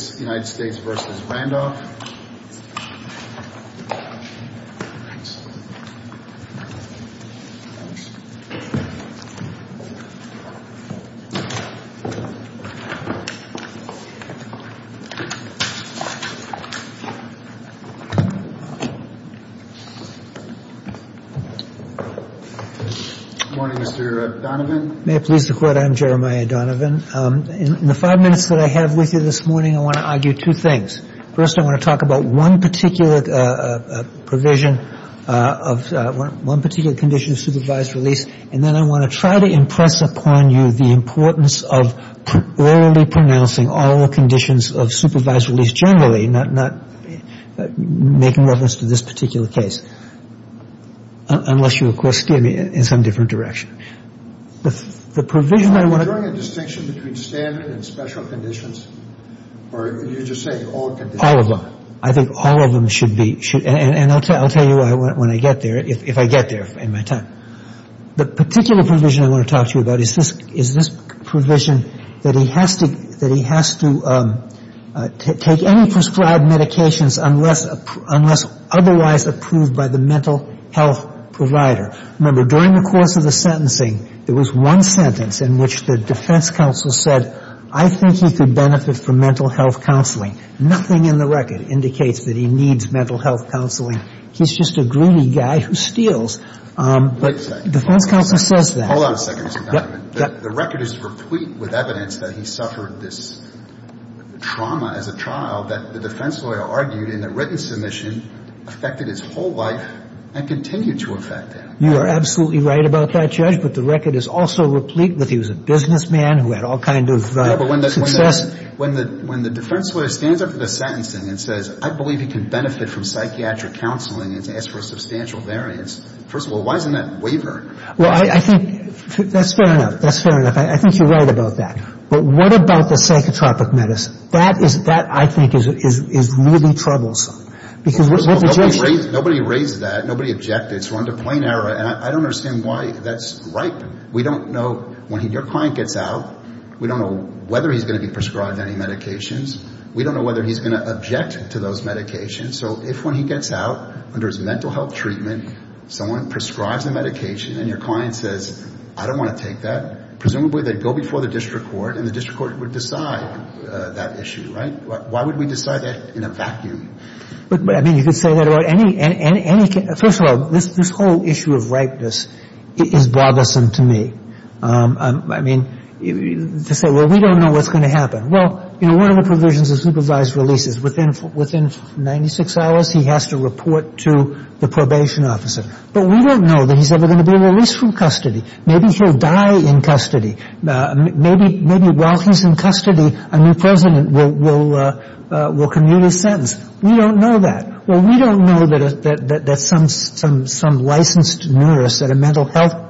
Good morning, Mr. Donovan. May it please the Court, I'm Jeremiah Donovan. In the five minutes that I have with you this morning, I want to argue two things. First, I want to talk about one particular provision of one particular condition of supervised release, and then I want to try to impress upon you the importance of orally pronouncing all conditions of supervised release generally, not making reference to this particular case, unless you, of course, steer me in some different direction. The provision I want to talk to you about is this provision that he has to take any prescribed medications unless otherwise approved by the mental health provider. Remember, during the course of the I think he could benefit from mental health counseling. Nothing in the record indicates that he needs mental health counseling. He's just a greedy guy who steals. But the defense counsel says that. Hold on a second, Mr. Donovan. The record is replete with evidence that he suffered this trauma as a child that the defense lawyer argued in a written submission affected his whole life and continue to affect him. You are absolutely right about that, Judge, but the record is also replete with he was a businessman who had all kinds of success. Yeah, but when the defense lawyer stands up to the sentencing and says, I believe he can benefit from psychiatric counseling and has to ask for a substantial variance, first of all, why isn't that waivered? Well, I think that's fair enough. That's fair enough. I think you're right about that. But what about the psychotropic medicine? That is, that I think is really troublesome, because what the judge says First of all, nobody raised that. Nobody objected. It's run to plain error, and I don't understand why that's ripe. We don't know, when your client gets out, we don't know whether he's going to be prescribed any medications. We don't know whether he's going to object to those medications. So if when he gets out under his mental health treatment, someone prescribes a medication and your client says, I don't want to take that, presumably they'd go before the district court and the district court would decide that issue, right? Why would we decide that in a vacuum? I mean, you could say that about any – first of all, this whole issue of ripeness is bothersome to me. I mean, to say, well, we don't know what's going to happen. Well, you know, one of the provisions of supervised release is within 96 hours, he has to report to the probation officer. But we don't know that he's ever going to be released from custody. Maybe he'll die in custody. Maybe while he's in custody, a new president will commune his sentence. We don't know that. Well, we don't know that some licensed nurse at a mental health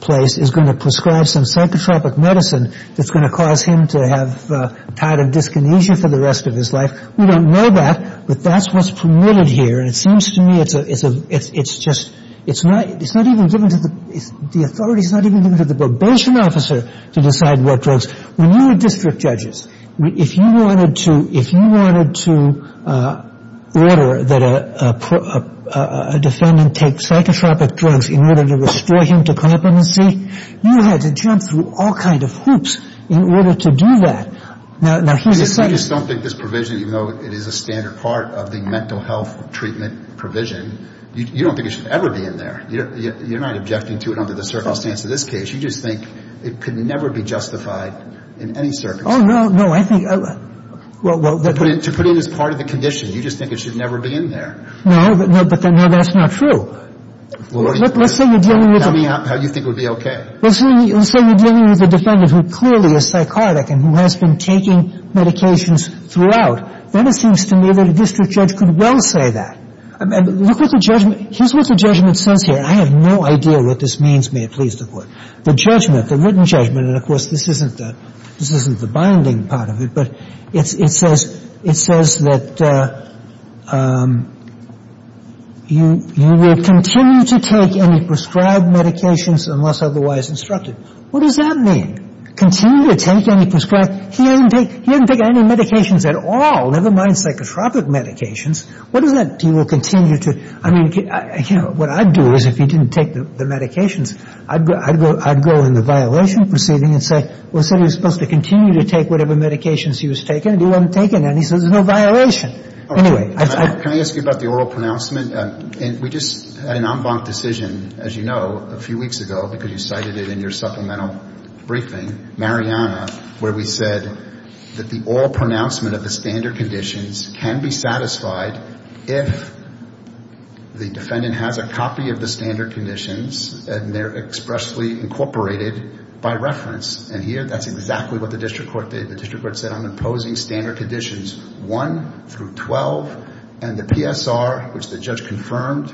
place is going to prescribe some psychotropic medicine that's going to cause him to have a tide of dyskinesia for the rest of his life. We don't know that, but that's what's permitted here and it seems to me it's just – it's not even given to the – the authority's not even given to the probation officer to decide what drugs – when you were district order that a defendant take psychotropic drugs in order to restore him to competency, you had to jump through all kind of hoops in order to do that. Now, here's the second – You just don't think this provision, even though it is a standard part of the mental health treatment provision, you don't think it should ever be in there. You're not objecting to it under the circumstance of this case. You just think it could never be justified in any circumstance. Oh, no, no. I think – well, well – To put it as part of the condition. You just think it should never be in there. No, but that's not true. Let's say you're dealing with a – How do you think it would be okay? Let's say you're dealing with a defendant who clearly is psychotic and who has been taking medications throughout, then it seems to me that a district judge could well say that. Look at the judgment – here's what the judgment says here. I have no idea what this means, may it please the Court. The judgment, the written judgment, and of course this isn't the – this isn't the binding part of it, but it says – it says that you will continue to take any prescribed medications unless otherwise instructed. What does that mean? Continue to take any prescribed – he didn't take – he didn't take any medications at all, never mind psychotropic medications. What does that – he will continue to – I mean, you know, what I'd do is if he didn't take the I'd go in the violation proceeding and say, well, he said he was supposed to continue to take whatever medications he was taking, and he wasn't taking any, so there's no violation. Anyway, I – Can I ask you about the oral pronouncement? And we just had an en banc decision, as you know, a few weeks ago, because you cited it in your supplemental briefing, Mariana, where we said that the oral pronouncement of the standard conditions can be satisfied if the defendant has a copy of the standard conditions and they're expressly incorporated by reference. And here, that's exactly what the district court did. The district court said, I'm imposing standard conditions 1 through 12, and the PSR, which the judge confirmed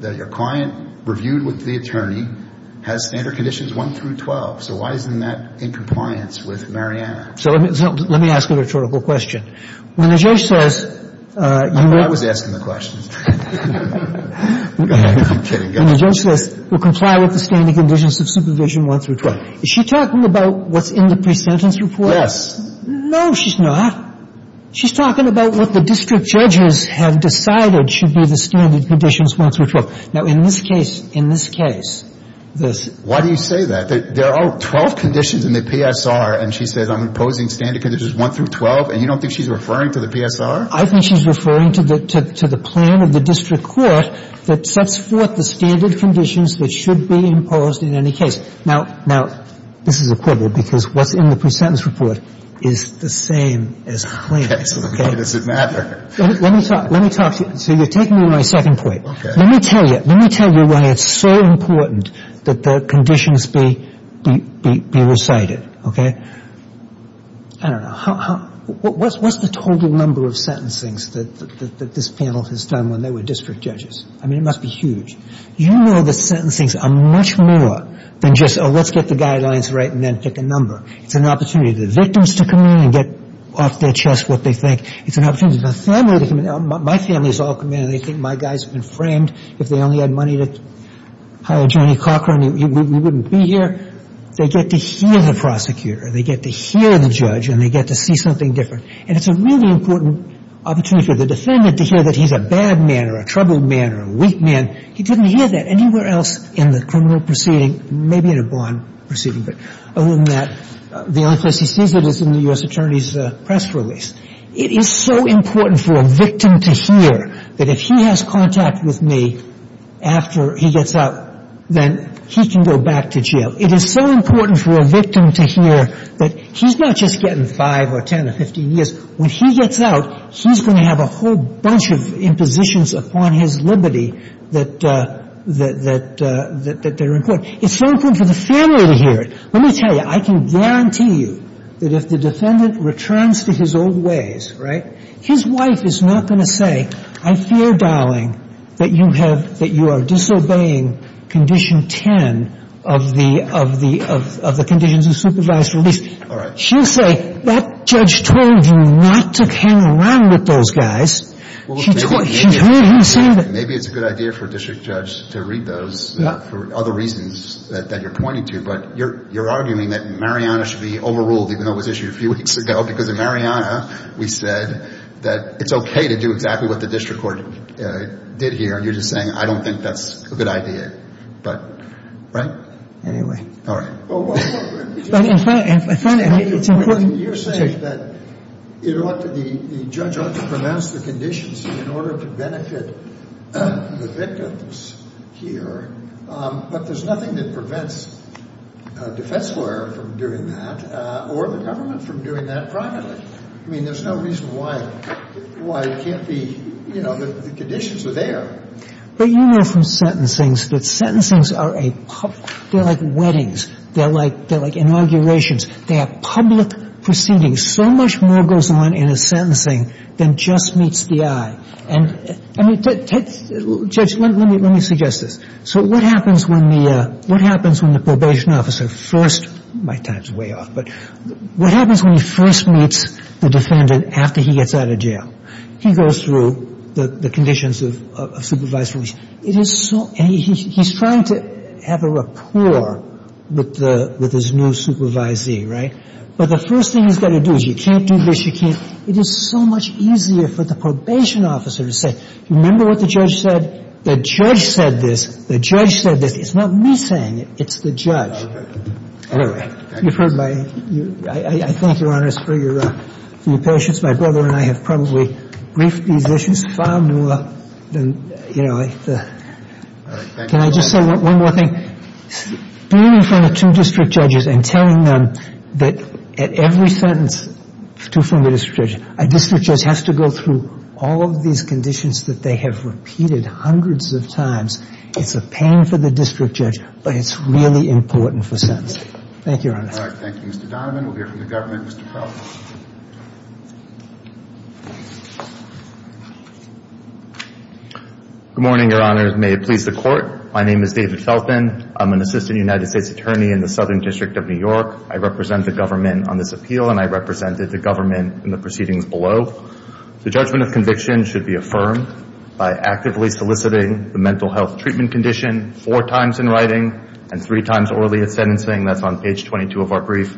that your client reviewed with the attorney, has standard conditions 1 through 12. So why isn't that in compliance with Mariana? So let me ask a rhetorical question. When the judge says – I was asking the question. I'm kidding. Go ahead. When the judge says, we'll comply with the standard conditions of supervision 1 through 12, is she talking about what's in the pre-sentence report? Yes. No, she's not. She's talking about what the district judges have decided should be the standard conditions 1 through 12. Now, in this case, in this case, this – 1 through 12, and you don't think she's referring to the PSR? I think she's referring to the plan of the district court that sets forth the standard conditions that should be imposed in any case. Now, this is a quibble, because what's in the pre-sentence report is the same as the plan. Okay. So why does it matter? Let me talk to you. So you're taking away my second point. Okay. Let me tell you why it's so important that the conditions be recited, okay? I don't know. How – what's the total number of sentencings that this panel has done when they were district judges? I mean, it must be huge. You know the sentencings are much more than just, oh, let's get the guidelines right and then pick a number. It's an opportunity for the victims to come in and get off their chest what they think. It's an opportunity for the family to come in. Now, my family has all come in, and they think my guy's been framed. If they only had money to hire Johnny Cochran, we wouldn't be here. They get to hear the prosecutor. They get to hear the judge. And they get to see something different. And it's a really important opportunity for the defendant to hear that he's a bad man or a troubled man or a weak man. He didn't hear that anywhere else in the criminal proceeding, maybe in a bond proceeding. But other than that, the only place he sees it is in the U.S. Attorney's press release. It is so important for a victim to hear that if he has contact with me after he gets out, then he can go back to jail. It is so important for a victim to hear that he's not just getting 5 or 10 or 15 years. When he gets out, he's going to have a whole bunch of impositions upon his liberty that are important. It's so important for the family to hear it. Let me tell you, I can guarantee you that if the defendant returns to his old ways, right, his wife is not going to say, I fear, darling, that you are disobeying Condition 10 of the conditions of supervised release. All right. She'll say, that judge told you not to hang around with those guys. Maybe it's a good idea for a district judge to read those for other reasons that you're pointing to. But you're arguing that Mariana should be overruled even though it was issued a few weeks ago because of Mariana, we said, that it's okay to do exactly what the district court did here. And you're just saying, I don't think that's a good idea. But, right? Anyway. All right. I find it helpful. You're saying that the judge ought to pronounce the conditions in order to benefit the victims here. But there's nothing that prevents a defense lawyer from doing that or the government from doing that privately. I mean, there's no reason why it can't be, you know, the conditions are there. But you know from sentencings that sentencings are a public – they're like weddings. They're like inaugurations. They are public proceedings. So much more goes on in a sentencing than just meets the eye. Judge, let me suggest this. So what happens when the probation officer first – my time's way off – but what happens when he first meets the defendant after he gets out of jail? He goes through the conditions of supervised release. It is so – and he's trying to have a rapport with his new supervisee, right? But the first thing he's got to do is you can't do this, you can't – it is so much easier for the probation officer to say, remember what the judge said? The judge said this. The judge said this. It's not me saying it. It's the judge. Anyway, you've heard my – I thank Your Honors for your patience. My brother and I have probably briefed these issues far more than, you know, the – Can I just say one more thing? Being in front of two district judges and telling them that at every sentence, two from the district judge, a district judge has to go through all of these conditions that they have repeated hundreds of times, it's a pain for the district judge, but it's really important for sentencing. Thank you, Your Honors. All right. Thank you, Mr. Donovan. We'll hear from the government. Mr. Felton. Good morning, Your Honors. May it please the Court. My name is David Felton. I'm an assistant United States attorney in the Southern District of New York. I represent the government on this appeal, and I represented the government in the proceedings below. The judgment of conviction should be affirmed by actively soliciting the mental health treatment condition four times in writing and three times orally at sentencing. That's on page 22 of our brief.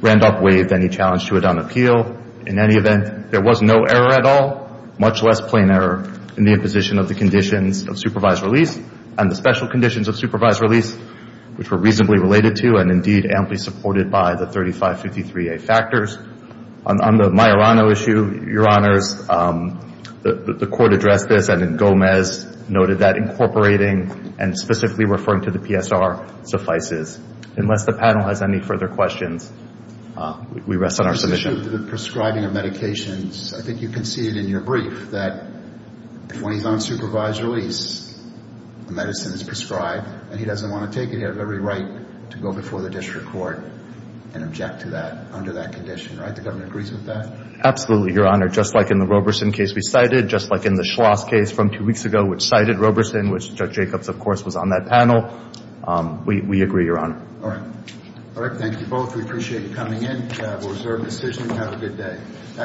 Randolph waived any challenge to it on appeal. In any event, there was no error at all, much less plain error, in the imposition of the conditions of supervised release. And the special conditions of supervised release, which were reasonably related to and, indeed, amply supported by the 3553A factors. On the Majorano issue, Your Honors, the Court addressed this, and then Gomez noted that incorporating and specifically referring to the PSR suffices. Unless the panel has any further questions, we rest on our submission. The prescribing of medications, I think you can see it in your brief, that when he's on supervised release, the medicine is prescribed, and he doesn't want to take it. He has every right to go before the district court and object to that under that condition, right? The government agrees with that? Absolutely, Your Honor. Just like in the Roberson case we cited, just like in the Schloss case from two weeks ago, which cited Roberson, which Judge Jacobs, of course, was on that panel, we agree, Your Honor. All right. All right. Thank you both. We appreciate you coming in. We have a reserved decision. Have a good day.